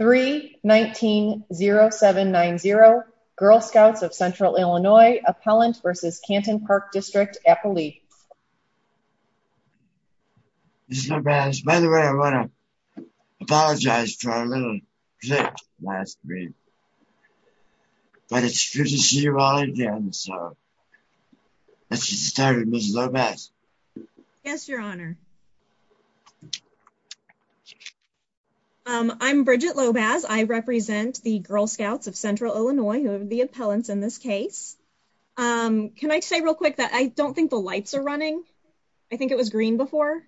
3190790, Girl Scouts of Central Illinois, Appellant v. Canton Park District, Appalachia. Ms. Lomaz, by the way, I want to apologize for our little glitch last week. But it's good to see you all again, so let's get started. Ms. Lomaz. Yes, Your Honor. I'm Bridgette Lomaz. I represent the Girl Scouts of Central Illinois, who are the appellants in this case. Can I say real quick that I don't think the lights are running? I think it was green before.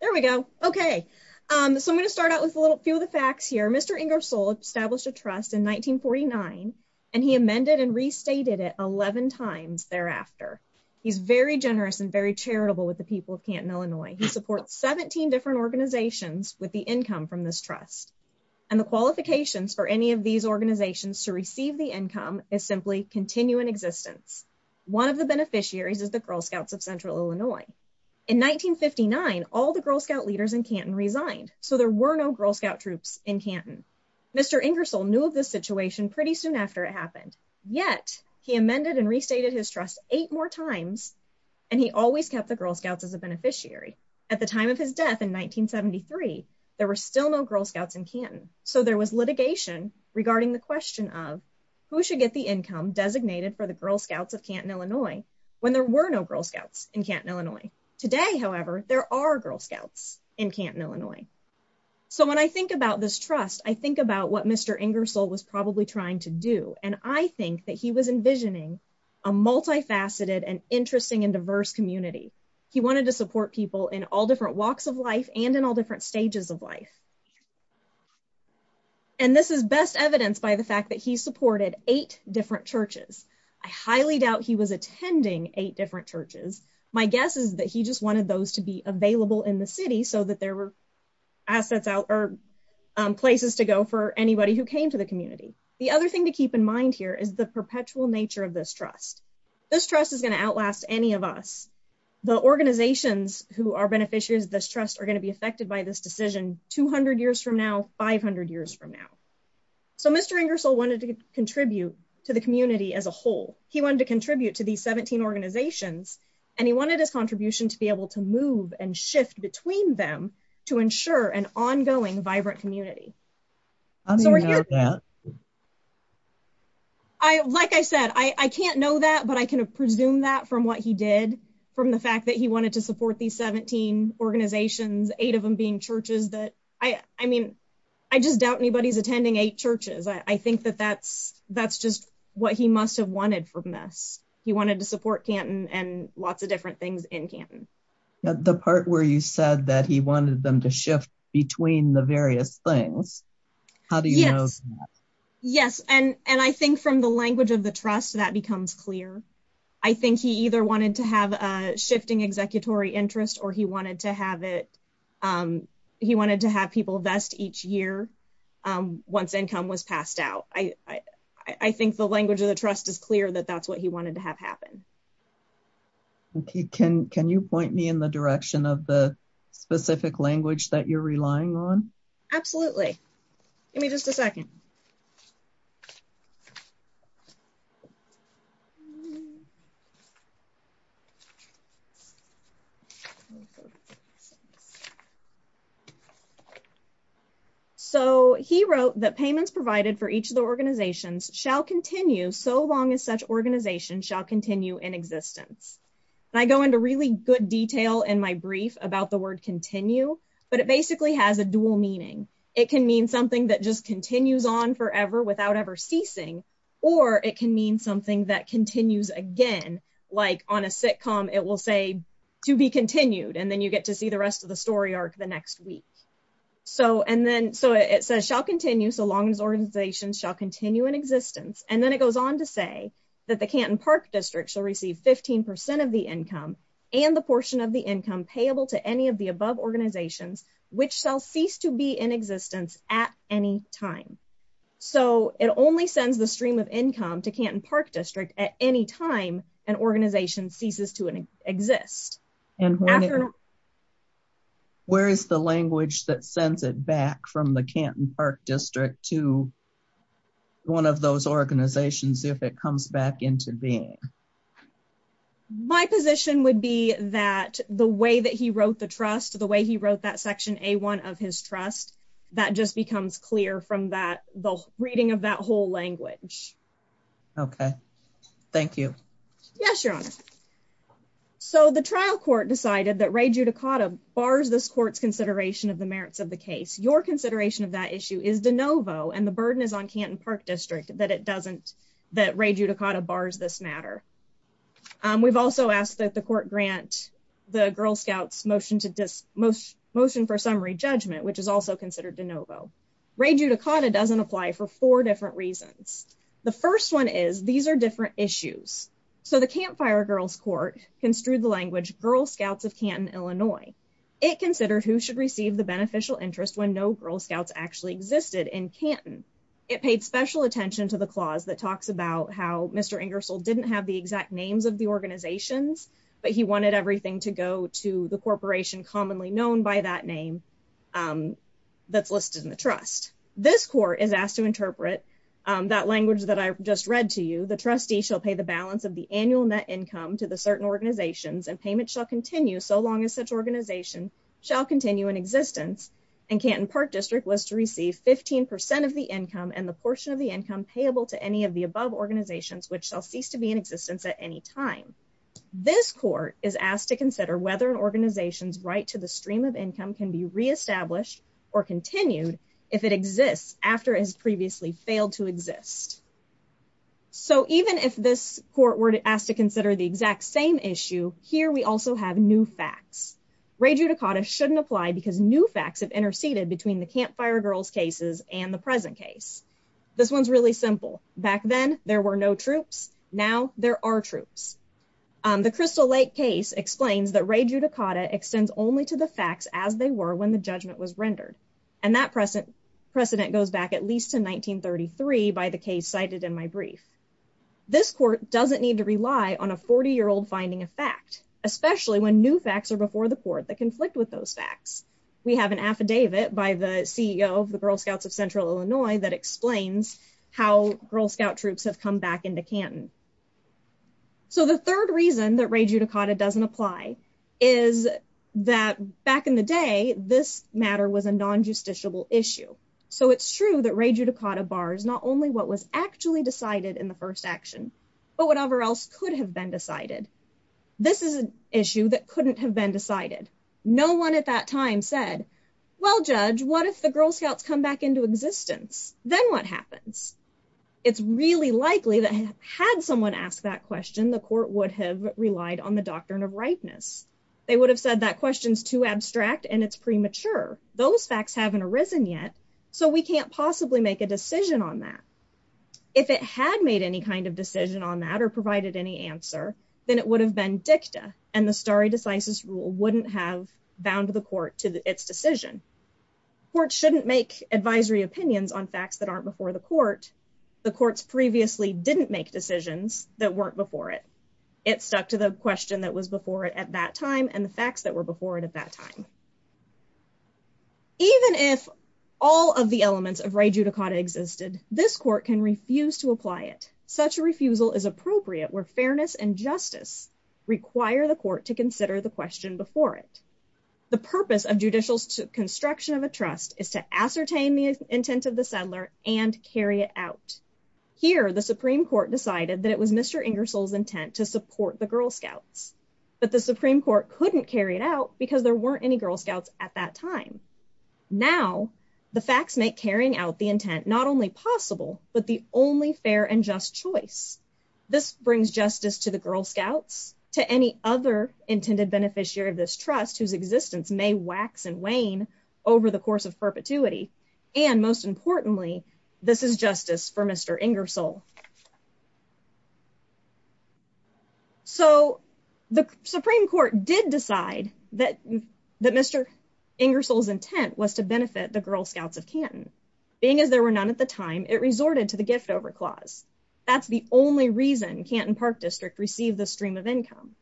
There we go. Okay, so I'm going to start out with a few of the facts here. Mr. Ingersoll established a trust in 1949, and he amended and restated it 11 times thereafter. He's very generous and very charitable with the people of Canton, Illinois. He supports 17 different organizations with the income from this trust. And the qualifications for any of these organizations to receive the income is simply continuing existence. One of the beneficiaries is the Girl Scouts of Central Illinois. In 1959, all the Girl Scout leaders in Canton resigned, so there were no Girl Scout troops in Canton. Mr. Ingersoll knew of this situation pretty soon after it happened, yet he amended and restated his trust eight more times, and he always kept the Girl Scouts as a beneficiary. At the time of his death in 1973, there were still no Girl Scouts in Canton, so there was litigation regarding the question of who should get the income designated for the Girl Scouts of Canton, Illinois, when there were no Girl Scouts in Canton, Illinois. Today, however, there are Girl Scouts in Canton, Illinois. So when I think about this trust, I think about what Mr. Ingersoll was probably trying to do, and I think that he was envisioning a multifaceted and interesting and diverse community. He wanted to support people in all different walks of life and in all different stages of life. And this is best evidenced by the fact that he supported eight different churches. I highly doubt he was attending eight different churches. My guess is that he just wanted those to be available in the city so that there were places to go for anybody who came to the community. The other thing to keep in mind here is the perpetual nature of this trust. This trust is going to outlast any of us. The organizations who are beneficiaries of this trust are going to be affected by this decision 200 years from now, 500 years from now. So Mr. Ingersoll wanted to contribute to the community as a whole. He wanted to contribute to these 17 organizations, and he wanted his contribution to be able to move and shift between them to ensure an ongoing vibrant community. How do you know that? Like I said, I can't know that, but I can presume that from what he did, from the fact that he wanted to support these 17 organizations, eight of them being churches. I just doubt anybody's attending eight churches. I think that that's just what he must have wanted from this. He wanted to support Canton and lots of different things in Canton. The part where you said that he wanted them to shift between the various things, how do you know that? Yes, and I think from the language of the trust, that becomes clear. I think he either wanted to have a shifting executory interest or he wanted to have people vest each year once income was passed out. I think the language of the trust is clear that that's what he wanted to have happen. Can you point me in the direction of the specific language that you're relying on? Absolutely. Give me just a second. Okay. He wrote that payments provided for each of the organizations shall continue so long as such organization shall continue in existence. I go into really good detail in my brief about the word continue, but it basically has a dual meaning. It can mean something that just continues on forever without ever ceasing, or it can mean something that continues again, like on a sitcom, it will say to be continued and then you get to see the rest of the story arc the next week. It says shall continue so long as organizations shall continue in existence, and then it goes on to say that the Canton Park District shall receive 15% of the income and the portion of the income payable to any of the above organizations, which shall cease to be in existence at any time. It only sends the stream of income to Canton Park District at any time an organization ceases to exist. Where is the language that sends it back from the Canton Park District to one of those organizations if it comes back into being? My position would be that the way that he wrote the trust, the way he wrote that section A1 of his trust, that just becomes clear from the reading of that whole language. Okay. Thank you. Yes, Your Honor. So the trial court decided that Ray Giudicata bars this court's consideration of the merits of the case. Your consideration of that issue is de novo, and the burden is on Canton Park District that it doesn't, that Ray Giudicata bars this matter. We've also asked that the court grant the Girl Scouts motion for summary judgment, which is also considered de novo. Ray Giudicata doesn't apply for four different reasons. The first one is these are different issues. So the Campfire Girls Court construed the language Girl Scouts of Canton, Illinois. It considered who should receive the beneficial interest when no Girl Scouts actually existed in Canton. It paid special attention to the clause that talks about how Mr. Ingersoll didn't have the exact names of the organizations, but he wanted everything to go to the corporation commonly known by that name that's listed in the trust. Next, this court is asked to interpret that language that I just read to you. The trustee shall pay the balance of the annual net income to the certain organizations and payment shall continue so long as such organization shall continue in existence. And Canton Park District was to receive 15% of the income and the portion of the income payable to any of the above organizations which shall cease to be in existence at any time. This court is asked to consider whether an organization's right to the stream of income can be reestablished or continued if it exists after it has previously failed to exist. So even if this court were asked to consider the exact same issue, here we also have new facts. Ray Giudicata shouldn't apply because new facts have interceded between the Campfire Girls cases and the present case. This one's really simple. Back then there were no troops. Now there are troops. The Crystal Lake case explains that Ray Giudicata extends only to the facts as they were when the judgment was rendered. And that precedent goes back at least to 1933 by the case cited in my brief. This court doesn't need to rely on a 40-year-old finding a fact, especially when new facts are before the court that conflict with those facts. We have an affidavit by the CEO of the Girl Scouts of Central Illinois that explains how Girl Scout troops have come back into Canton. So the third reason that Ray Giudicata doesn't apply is that back in the day this matter was a non-justiciable issue. So it's true that Ray Giudicata bars not only what was actually decided in the first action, but whatever else could have been decided. This is an issue that couldn't have been decided. No one at that time said, well, Judge, what if the Girl Scouts come back into existence? Then what happens? It's really likely that had someone asked that question, the court would have relied on the doctrine of ripeness. They would have said that question's too abstract and it's premature. Those facts haven't arisen yet, so we can't possibly make a decision on that. If it had made any kind of decision on that or provided any answer, then it would have been dicta, and the stare decisis rule wouldn't have bound the court to its decision. Courts shouldn't make advisory opinions on facts that aren't before the court. The courts previously didn't make decisions that weren't before it. It stuck to the question that was before it at that time and the facts that were before it at that time. Even if all of the elements of Ray Giudicata existed, this court can refuse to apply it. Such a refusal is appropriate where fairness and justice require the court to consider the question before it. The purpose of judicial construction of a trust is to ascertain the intent of the settler and carry it out. Here, the Supreme Court decided that it was Mr. Ingersoll's intent to support the Girl Scouts, but the Supreme Court couldn't carry it out because there weren't any Girl Scouts at that time. Now, the facts make carrying out the intent not only possible, but the only fair and just choice. This brings justice to the Girl Scouts, to any other intended beneficiary of this trust whose existence may wax and wane over the course of perpetuity, and most importantly, this is justice for Mr. Ingersoll. So, the Supreme Court did decide that Mr. Ingersoll's intent was to benefit the Girl Scouts of Canton. Being as there were none at the time, it resorted to the gift over clause. That's the only reason Canton Park District received this stream of income.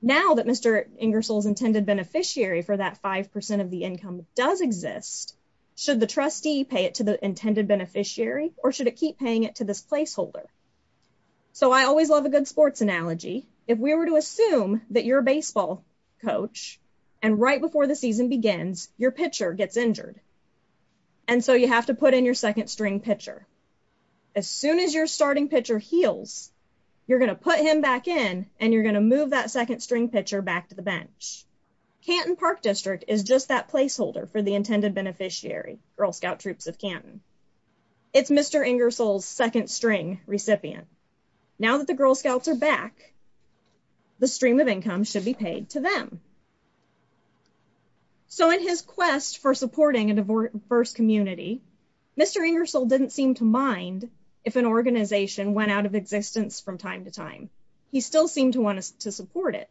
Now that Mr. Ingersoll's intended beneficiary for that 5% of the income does exist, should the trustee pay it to the intended beneficiary, or should it keep paying it to this placeholder? So, I always love a good sports analogy. If we were to assume that you're a baseball coach, and right before the season begins, your pitcher gets injured, and so you have to put in your second string pitcher. As soon as your starting pitcher heals, you're going to put him back in, and you're going to move that second string pitcher back to the bench. Canton Park District is just that placeholder for the intended beneficiary, Girl Scout Troops of Canton. It's Mr. Ingersoll's second string recipient. Now that the Girl Scouts are back, the stream of income should be paid to them. So, in his quest for supporting a diverse community, Mr. Ingersoll didn't seem to mind if an organization went out of existence from time to time. He still seemed to want to support it.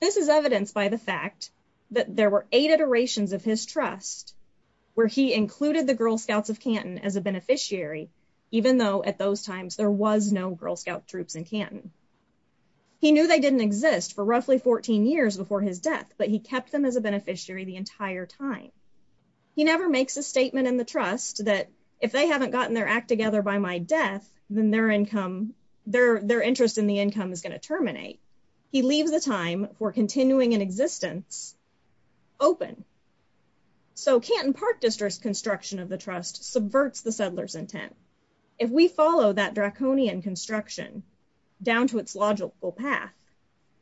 This is evidenced by the fact that there were eight iterations of his trust, where he included the Girl Scouts of Canton as a beneficiary, even though at those times there was no Girl Scout Troops in Canton. He knew they didn't exist for roughly 14 years before his death, but he kept them as a beneficiary the entire time. He never makes a statement in the trust that if they haven't gotten their act together by my death, then their interest in the income is going to terminate. He leaves the time for continuing in existence open. So, Canton Park District's construction of the trust subverts the settler's intent. If we follow that draconian construction down to its logical path,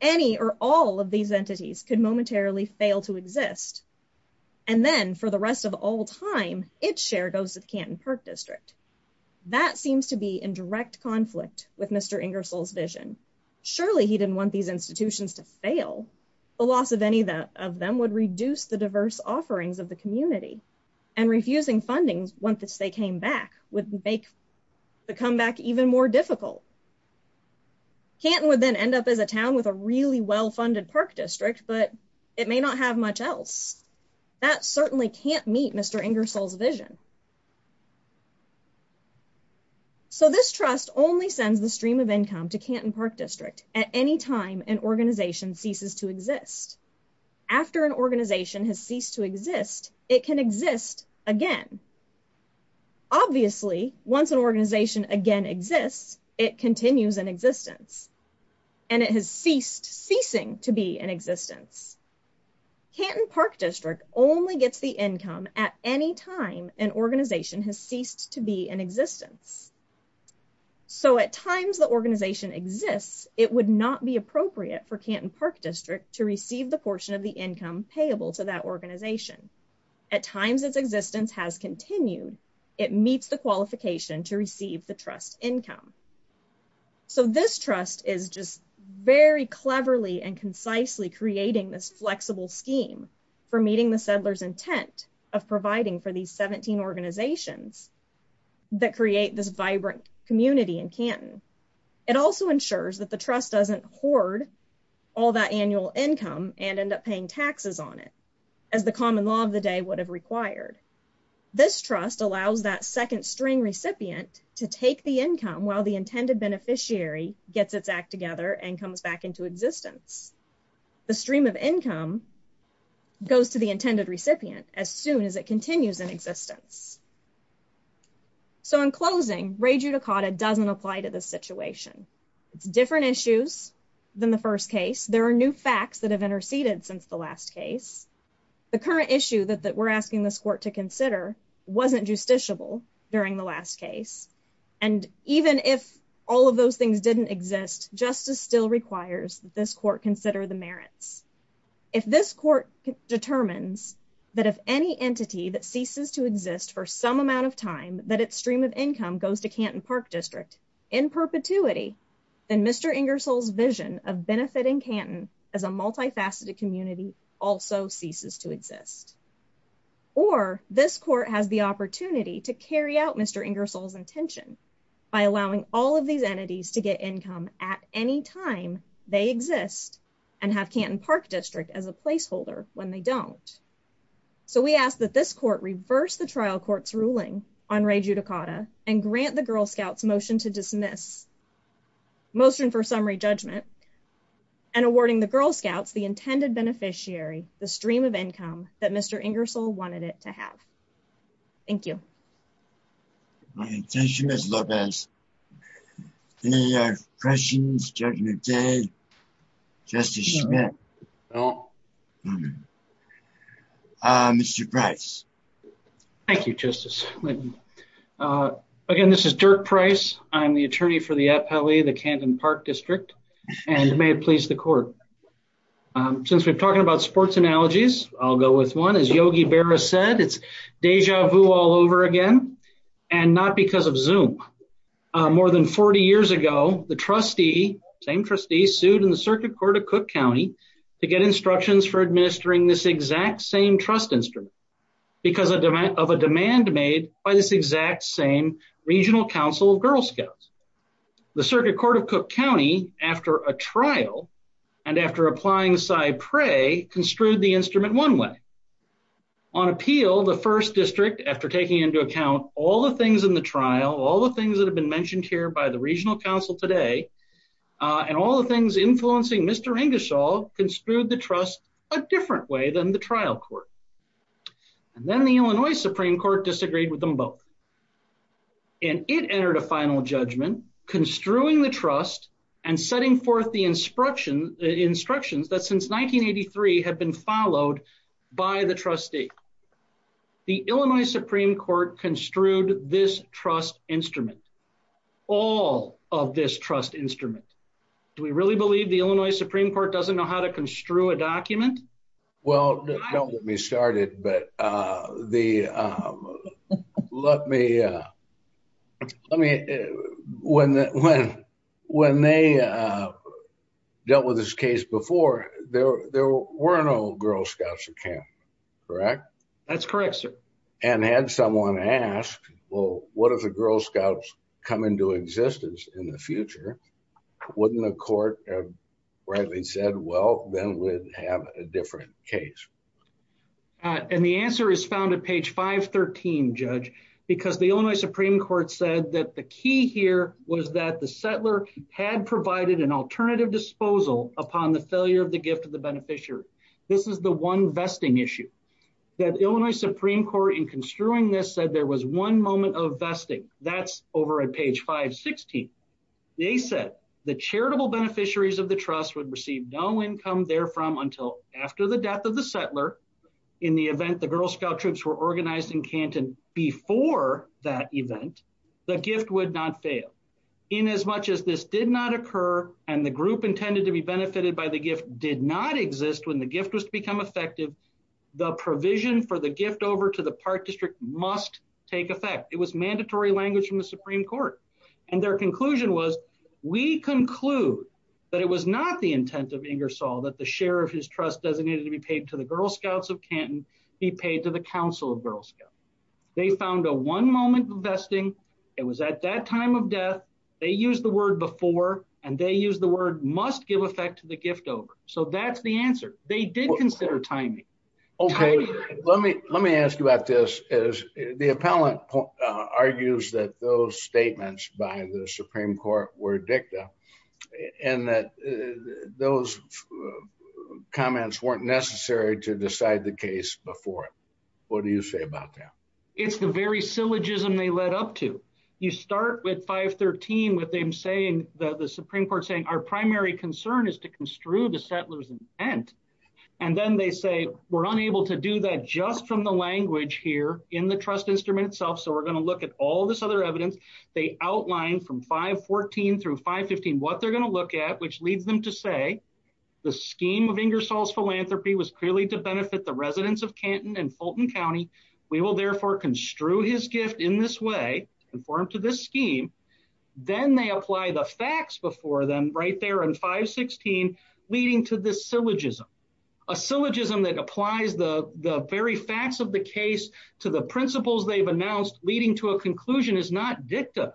any or all of these entities could momentarily fail to exist. And then, for the rest of all time, its share goes to the Canton Park District. That seems to be in direct conflict with Mr. Ingersoll's vision. Surely, he didn't want these institutions to fail. The loss of any of them would reduce the diverse offerings of the community, and refusing funding once they came back would make the comeback even more difficult. Canton would then end up as a town with a really well-funded park district, but it may not have much else. That certainly can't meet Mr. Ingersoll's vision. So, this trust only sends the stream of income to Canton Park District at any time an organization ceases to exist. After an organization has ceased to exist, it can exist again. Obviously, once an organization again exists, it continues in existence. And it has ceased ceasing to be in existence. Canton Park District only gets the income at any time an organization has ceased to be in existence. So, at times the organization exists, it would not be appropriate for Canton Park District to receive the portion of the income payable to that organization. At times its existence has continued, it meets the qualification to receive the trust income. So, this trust is just very cleverly and concisely creating this flexible scheme for meeting the settler's intent of providing for these 17 organizations that create this vibrant community in Canton. It also ensures that the trust doesn't hoard all that annual income and end up paying taxes on it, as the common law of the day would have required. This trust allows that second string recipient to take the income while the intended beneficiary gets its act together and comes back into existence. The stream of income goes to the intended recipient as soon as it continues in existence. So, in closing, re judicata doesn't apply to this situation. It's different issues than the first case. There are new facts that have interceded since the last case. The current issue that we're asking this court to consider wasn't justiciable during the last case. And even if all of those things didn't exist, justice still requires that this court consider the merits. If this court determines that if any entity that ceases to exist for some amount of time that its stream of income goes to Canton Park District in perpetuity, then Mr. Ingersoll's vision of benefiting Canton as a multifaceted community also ceases to exist. Or this court has the opportunity to carry out Mr. Ingersoll's intention by allowing all of these entities to get income at any time they exist and have Canton Park District as a placeholder when they don't. So we ask that this court reverse the trial court's ruling on re judicata and grant the Girl Scouts motion to dismiss motion for summary judgment and awarding the Girl Scouts the intended beneficiary, the stream of income that Mr. Ingersoll wanted it to have. Thank you. Thank you, Ms. Lopez. Any questions, Judge McKay, Justice Schmidt? Mr. Price. Thank you, Justice. Again, this is Dirk Price. I'm the attorney for the Atpelley, the Canton Park District, and may it please the court. Since we're talking about sports analogies, I'll go with one. As Yogi Berra said, it's deja vu all over again, and not because of Zoom. More than 40 years ago, the trustee, same trustee, sued in the Circuit Court of Cook County to get instructions for administering this exact same trust instrument because of a demand made by this exact same regional council of Girl Scouts. The Circuit Court of Cook County, after a trial, and after applying Cy Prey, construed the instrument one way. On appeal, the first district, after taking into account all the things in the trial, all the things that have been mentioned here by the regional council today, and all the things influencing Mr. Ingersoll, construed the trust a different way than the trial court. And then the Illinois Supreme Court disagreed with them both. And it entered a final judgment, construing the trust and setting forth the instructions that since 1983 have been followed by the trustee. The Illinois Supreme Court construed this trust instrument. All of this trust instrument. Do we really believe the Illinois Supreme Court doesn't know how to construe a document? Well, don't get me started, but when they dealt with this case before, there were no Girl Scouts at camp, correct? That's correct, sir. And had someone asked, well, what if the Girl Scouts come into existence in the future? Wouldn't the court have rightly said, well, then we'd have a different case? And the answer is found at page 513, Judge, because the Illinois Supreme Court said that the key here was that the settler had provided an alternative disposal upon the failure of the gift of the beneficiary. This is the one vesting issue that Illinois Supreme Court in construing this said there was one moment of vesting. That's over at page 516. They said the charitable beneficiaries of the trust would receive no income there from until after the death of the settler. In the event, the Girl Scout troops were organized in Canton before that event, the gift would not fail. In as much as this did not occur, and the group intended to be benefited by the gift did not exist when the gift was to become effective, the provision for the gift over to the Park District must take effect. It was mandatory language from the Supreme Court. And their conclusion was, we conclude that it was not the intent of Ingersoll that the share of his trust designated to be paid to the Girl Scouts of Canton be paid to the Council of Girl Scouts. They found a one moment of vesting. It was at that time of death. They use the word before and they use the word must give effect to the gift over. So that's the answer. They did consider timing. Okay, let me let me ask you about this is the appellant argues that those statements by the Supreme Court were dicta and that those comments weren't necessary to decide the case before. What do you say about that? It's the very syllogism they led up to. You start with 513 with them saying that the Supreme Court saying our primary concern is to construe the settler's intent. And then they say, we're unable to do that just from the language here in the trust instrument itself. So we're going to look at all this other evidence. They outlined from 514 through 515 what they're going to look at which leads them to say the scheme of Ingersoll's philanthropy was clearly to benefit the residents of Canton and Fulton County. We will therefore construe his gift in this way, conform to this scheme. Then they apply the facts before them right there in 516 leading to this syllogism. A syllogism that applies the very facts of the case to the principles they've announced leading to a conclusion is not dicta.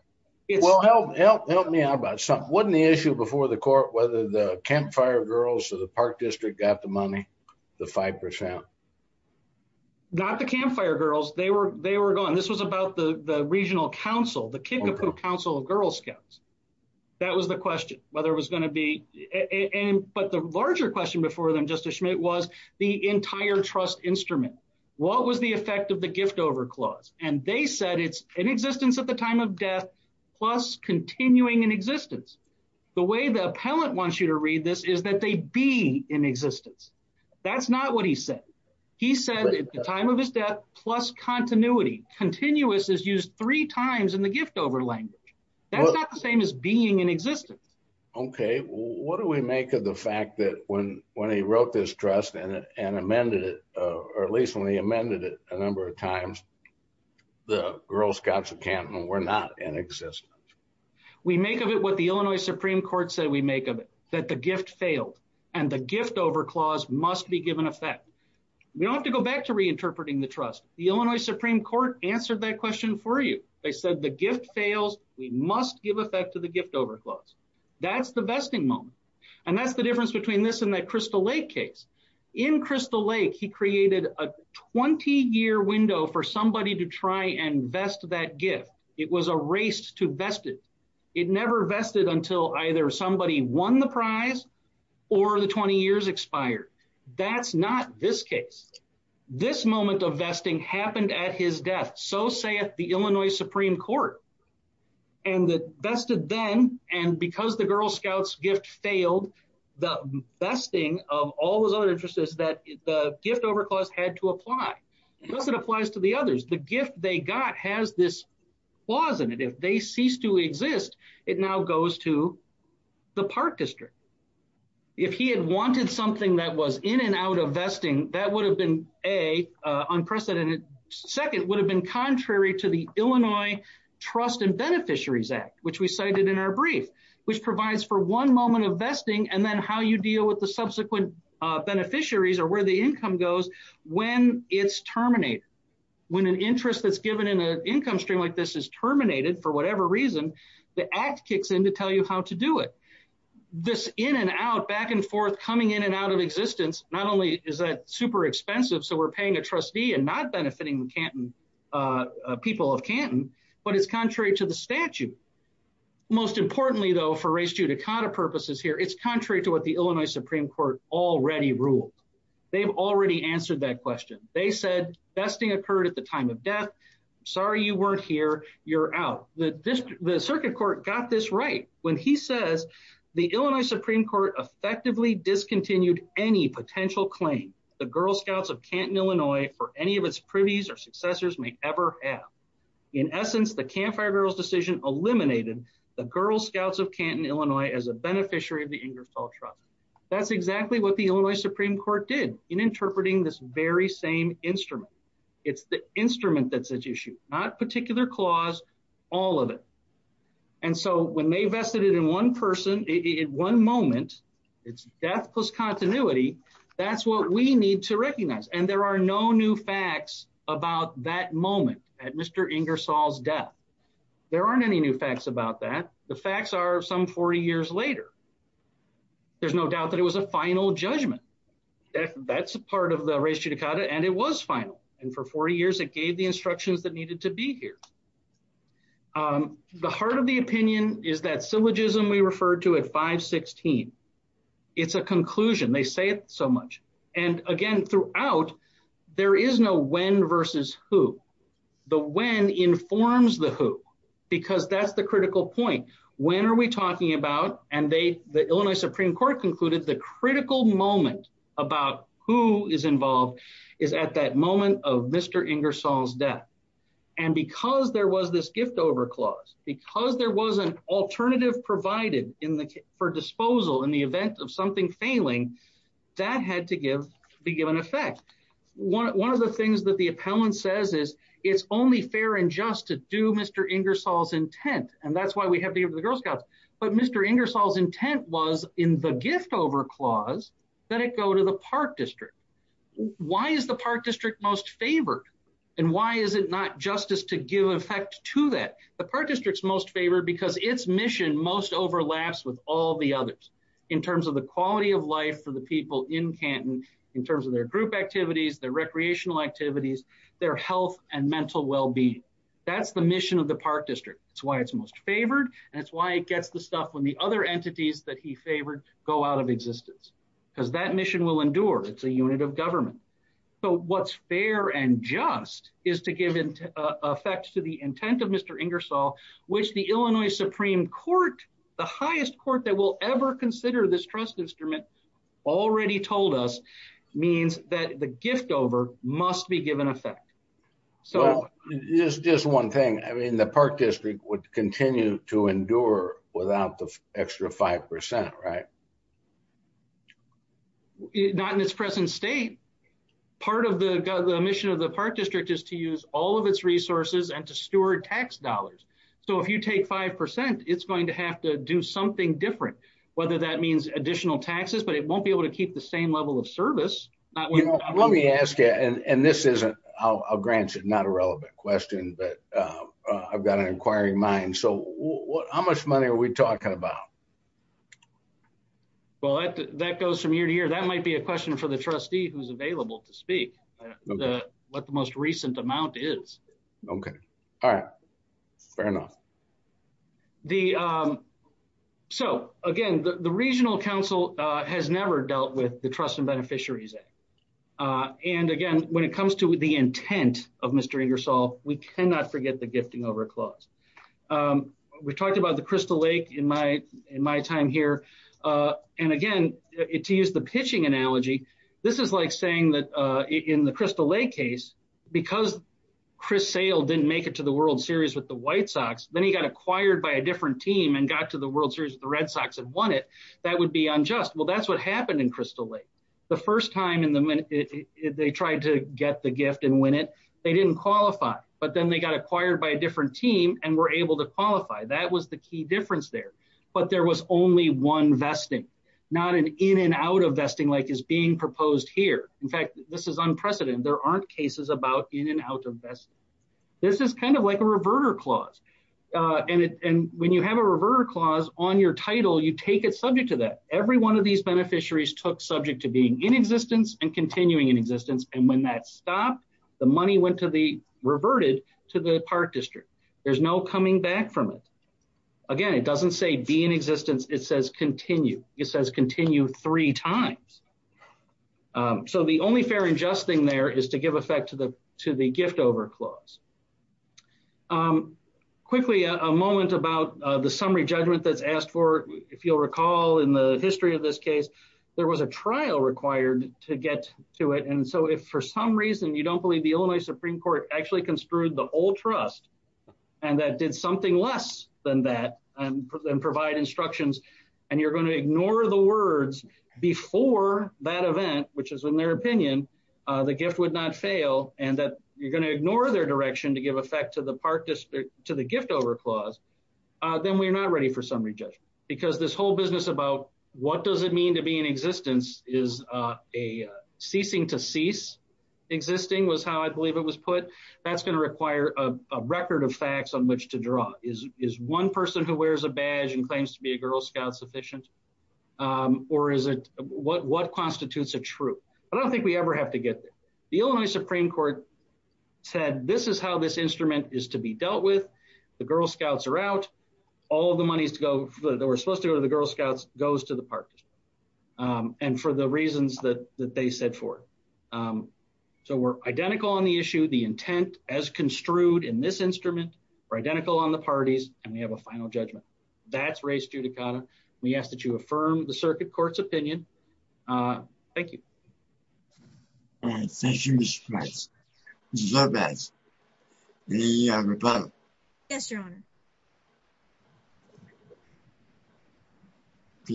Help me out about something. Wasn't the issue before the court whether the campfire girls of the Park District got the money, the 5%? Not the campfire girls, they were gone. This was about the regional council, the Kickapoo Council of Girl Scouts. That was the question, whether it was going to be. But the larger question before them, Justice Schmidt, was the entire trust instrument. What was the effect of the gift over clause? And they said it's in existence at the time of death, plus continuing in existence. The way the appellant wants you to read this is that they be in existence. That's not what he said. He said at the time of his death, plus continuity. Continuous is used three times in the gift over language. That's not the same as being in existence. OK, what do we make of the fact that when when he wrote this trust and amended it, or at least when he amended it a number of times, the Girl Scouts of Canton were not in existence. We make of it what the Illinois Supreme Court said we make of it, that the gift failed and the gift over clause must be given effect. We don't have to go back to reinterpreting the trust. The Illinois Supreme Court answered that question for you. They said the gift fails. We must give effect to the gift over clause. That's the vesting moment. And that's the difference between this and that Crystal Lake case. In Crystal Lake, he created a 20 year window for somebody to try and vest that gift. It was a race to vested. It never vested until either somebody won the prize or the 20 years expired. That's not this case. This moment of vesting happened at his death. So say at the Illinois Supreme Court. And that vested then. And because the Girl Scouts gift failed, the best thing of all those other interests is that the gift over clause had to apply. Because it applies to the others. The gift they got has this clause in it. If they cease to exist, it now goes to the Park District. If he had wanted something that was in and out of vesting, that would have been a unprecedented. Second would have been contrary to the Illinois Trust and Beneficiaries Act, which we cited in our brief, which provides for one moment of vesting. And then how you deal with the subsequent beneficiaries or where the income goes when it's terminated. When an interest that's given in an income stream like this is terminated for whatever reason, the act kicks in to tell you how to do it. This in and out, back and forth, coming in and out of existence. Not only is that super expensive. So we're paying a trustee and not benefiting the people of Canton, but it's contrary to the statute. Most importantly, though, for race judicata purposes here, it's contrary to what the Illinois Supreme Court already ruled. They've already answered that question. They said vesting occurred at the time of death. Sorry, you weren't here. You're out. The circuit court got this right when he says the Illinois Supreme Court effectively discontinued any potential claim. The Girl Scouts of Canton, Illinois, for any of its privies or successors may ever have. In essence, the Campfire Girls decision eliminated the Girl Scouts of Canton, Illinois, as a beneficiary of the Ingersoll trial. That's exactly what the Illinois Supreme Court did in interpreting this very same instrument. It's the instrument that's at issue, not particular clause, all of it. And so when they vested it in one person in one moment, it's death plus continuity. That's what we need to recognize. And there are no new facts about that moment at Mr. Ingersoll's death. There aren't any new facts about that. The facts are some 40 years later. There's no doubt that it was a final judgment. That's a part of the race judicata. And it was final. And for 40 years, it gave the instructions that needed to be here. The heart of the opinion is that syllogism we referred to at 516. It's a conclusion. They say it so much. And again, throughout, there is no when versus who. The when informs the who, because that's the critical point. When are we talking about? And the Illinois Supreme Court concluded the critical moment about who is involved is at that moment of Mr. Ingersoll's death. And because there was this gift over clause, because there was an alternative provided for disposal in the event of something failing, that had to be given effect. One of the things that the appellant says is it's only fair and just to do Mr. Ingersoll's intent. And that's why we have the Girl Scouts. But Mr. Ingersoll's intent was in the gift over clause that it go to the Park District. Why is the Park District most favored? And why is it not justice to give effect to that? The Park District's most favored because its mission most overlaps with all the others. In terms of the quality of life for the people in Canton, in terms of their group activities, their recreational activities, their health and mental well-being. That's the mission of the Park District. That's why it's most favored. And that's why it gets the stuff when the other entities that he favored go out of existence. Because that mission will endure. It's a unit of government. So what's fair and just is to give effect to the intent of Mr. Ingersoll, which the Illinois Supreme Court, the highest court that will ever consider this trust instrument, already told us means that the gift over must be given effect. So it's just one thing. I mean, the Park District would continue to endure without the extra 5%, right? Not in its present state. Part of the mission of the Park District is to use all of its resources and to steward tax dollars. So if you take 5%, it's going to have to do something different, whether that means additional taxes, but it won't be able to keep the same level of service. Let me ask you, and this isn't, I'll grant you, not a relevant question, but I've got an inquiring mind. So how much money are we talking about? Well, that goes from year to year. That might be a question for the trustee who's available to speak. What the most recent amount is. Okay. All right. Fair enough. So again, the Regional Council has never dealt with the Trust and Beneficiaries Act. And again, when it comes to the intent of Mr. Ingersoll, we cannot forget the gifting over clause. We talked about the Crystal Lake in my time here. And again, to use the pitching analogy, this is like saying that in the Crystal Lake case, because Chris Sayle didn't make it to the World Series with the White Sox, then he got acquired by a different team and got to the World Series with the Red Sox and won it. That would be unjust. Well, that's what happened in Crystal Lake. The first time they tried to get the gift and win it, they didn't qualify, but then they got acquired by a different team and were able to qualify. That was the key difference there. But there was only one vesting, not an in and out of vesting like is being proposed here. In fact, this is unprecedented. There aren't cases about in and out of vesting. This is kind of like a reverter clause. And when you have a reverter clause on your title, you take it subject to that. Every one of these beneficiaries took subject to being in existence and continuing in existence. And when that stopped, the money reverted to the Park District. There's no coming back from it. Again, it doesn't say be in existence. It says continue. It says continue three times. So the only fair and just thing there is to give effect to the gift over clause. Quickly, a moment about the summary judgment that's asked for. If you'll recall in the history of this case, there was a trial required to get to it. And so if for some reason you don't believe the Illinois Supreme Court actually construed the whole trust, and that did something less than that and provide instructions, and you're going to ignore the words before that event, which is in their opinion, the gift would not fail and that you're going to ignore their direction to give effect to the gift over clause, then we're not ready for summary judgment. Because this whole business about what does it mean to be in existence is a ceasing to cease. Existing was how I believe it was put. That's going to require a record of facts on which to draw. Is one person who wears a badge and claims to be a Girl Scout sufficient? Or is it what constitutes a true? I don't think we ever have to get there. The Illinois Supreme Court said this is how this instrument is to be dealt with. The Girl Scouts are out. All the monies to go that were supposed to go to the Girl Scouts goes to the parties. And for the reasons that they said for. So we're identical on the issue, the intent as construed in this instrument. We're identical on the parties and we have a final judgment. That's race judicata. We ask that you affirm the circuit court's opinion. Thank you. Thank you, Mr. Price. Yes, Your Honor.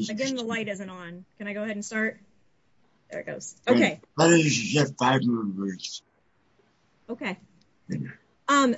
Again, the light isn't on. Can I go ahead and start? There it goes. Okay. Okay.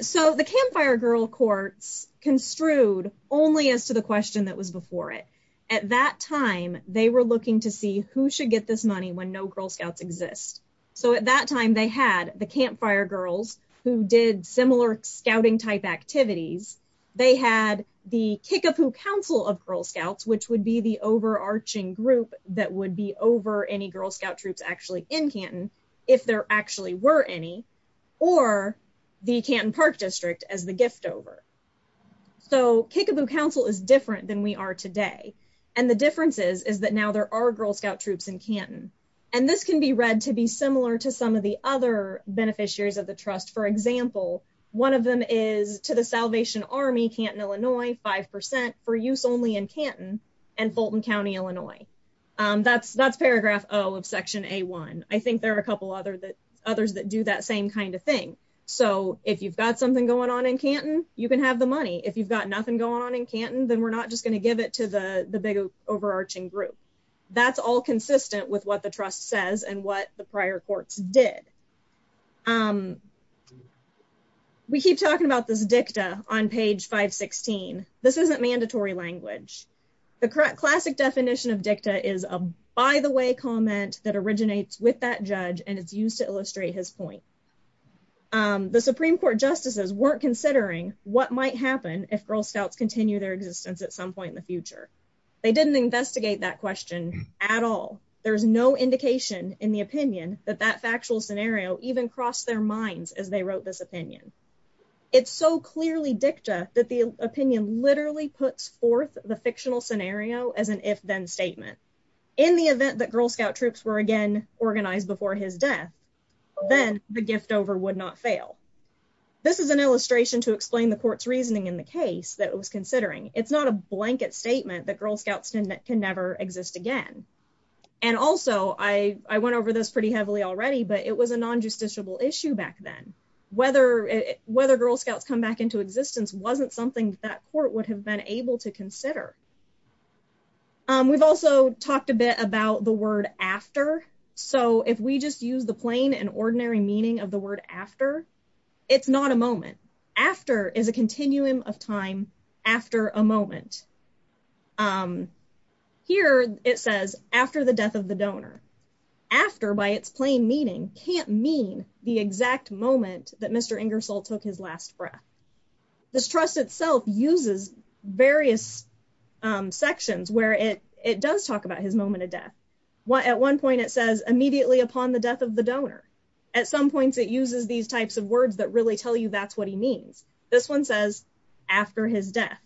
So the Campfire Girl Courts construed only as to the question that was before it. At that time, they were looking to see who should get this money when no Girl Scouts exist. So at that time, they had the Campfire Girls who did similar scouting type activities. They had the Kickapoo Council of Girl Scouts, which would be the overarching group that would be over any Girl Scout troops actually in Canton, if there actually were any. Or the Canton Park District as the gift over. So Kickapoo Council is different than we are today. And the difference is that now there are Girl Scout troops in Canton. And this can be read to be similar to some of the other beneficiaries of the trust. For example, one of them is to the Salvation Army, Canton, Illinois, 5% for use only in Canton and Fulton County, Illinois. That's paragraph O of section A1. I think there are a couple others that do that same kind of thing. So if you've got something going on in Canton, you can have the money. If you've got nothing going on in Canton, then we're not just going to give it to the big overarching group. That's all consistent with what the trust says and what the prior courts did. We keep talking about this dicta on page 516. This isn't mandatory language. The classic definition of dicta is a by the way comment that originates with that judge and it's used to illustrate his point. The Supreme Court justices weren't considering what might happen if Girl Scouts continue their existence at some point in the future. They didn't investigate that question at all. There's no indication in the opinion that that factual scenario even crossed their minds as they wrote this opinion. It's so clearly dicta that the opinion literally puts forth the fictional scenario as an if-then statement. In the event that Girl Scout troops were again organized before his death, then the gift over would not fail. This is an illustration to explain the court's reasoning in the case that it was considering. It's not a blanket statement that Girl Scouts can never exist again. And also, I went over this pretty heavily already, but it was a non-justiciable issue back then. Whether Girl Scouts come back into existence wasn't something that court would have been able to consider. We've also talked a bit about the word after. So if we just use the plain and ordinary meaning of the word after, it's not a moment. After is a continuum of time after a moment. Here it says after the death of the donor. After, by its plain meaning, can't mean the exact moment that Mr. Ingersoll took his last breath. This trust itself uses various sections where it does talk about his moment of death. At one point it says immediately upon the death of the donor. At some points it uses these types of words that really tell you that's what he means. This one says after his death.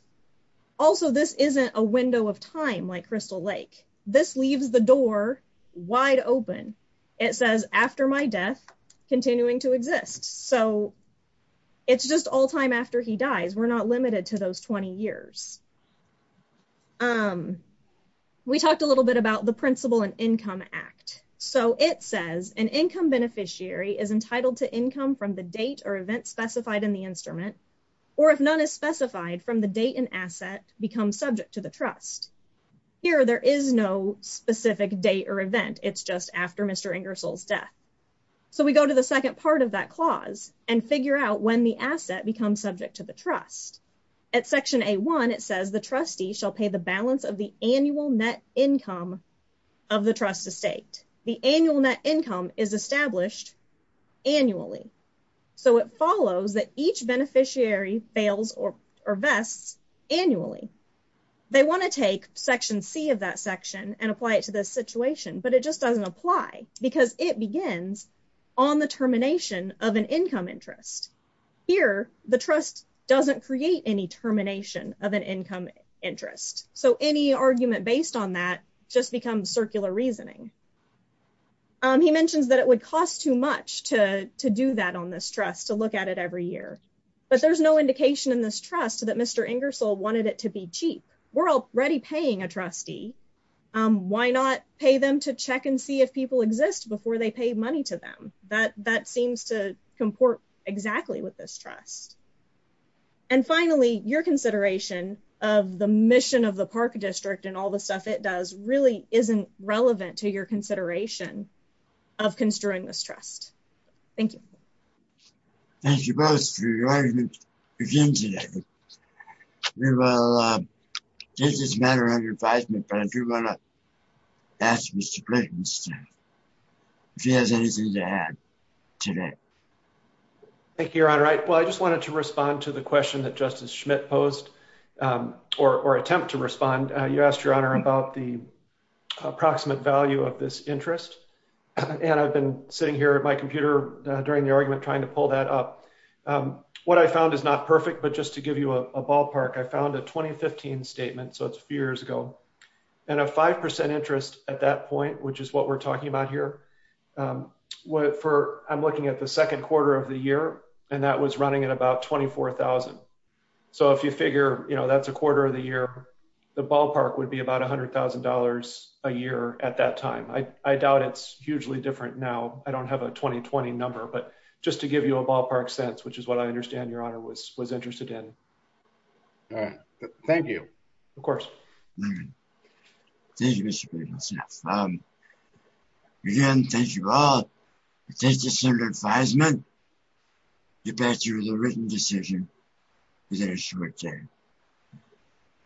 Also, this isn't a window of time like Crystal Lake. This leaves the door wide open. It says after my death, continuing to exist. So it's just all time after he dies. We're not limited to those 20 years. We talked a little bit about the Principle and Income Act. So it says an income beneficiary is entitled to income from the date or event specified in the instrument. Or if none is specified from the date an asset becomes subject to the trust. Here there is no specific date or event. It's just after Mr. Ingersoll's death. So we go to the second part of that clause and figure out when the asset becomes subject to the trust. At Section A-1 it says the trustee shall pay the balance of the annual net income of the trust estate. The annual net income is established annually. So it follows that each beneficiary fails or vests annually. They want to take Section C of that section and apply it to this situation. But it just doesn't apply because it begins on the termination of an income interest. Here the trust doesn't create any termination of an income interest. So any argument based on that just becomes circular reasoning. He mentions that it would cost too much to do that on this trust to look at it every year. But there's no indication in this trust that Mr. Ingersoll wanted it to be cheap. We're already paying a trustee. Why not pay them to check and see if people exist before they pay money to them? That seems to comport exactly with this trust. And finally, your consideration of the mission of the Park District and all the stuff it does really isn't relevant to your consideration of construing this trust. Thank you. Thank you both for your arguments again today. We will take this matter under advisement. But I do want to ask Mr. Brittenstine if he has anything to add today. Thank you, Your Honor. Well, I just wanted to respond to the question that Justice Schmidt posed or attempt to respond. You asked, Your Honor, about the approximate value of this interest. And I've been sitting here at my computer during the argument trying to pull that up. What I found is not perfect, but just to give you a ballpark, I found a 2015 statement. So it's a few years ago. And a 5% interest at that point, which is what we're talking about here. I'm looking at the second quarter of the year, and that was running at about $24,000. So if you figure that's a quarter of the year, the ballpark would be about $100,000 a year at that time. I doubt it's hugely different now. I don't have a 2020 number. But just to give you a ballpark sense, which is what I understand Your Honor was interested in. Thank you. Of course. Thank you, Mr. Briggs. Again, thank you all. Thank you, Senator Feinman. Get back to you with a written decision within a short time.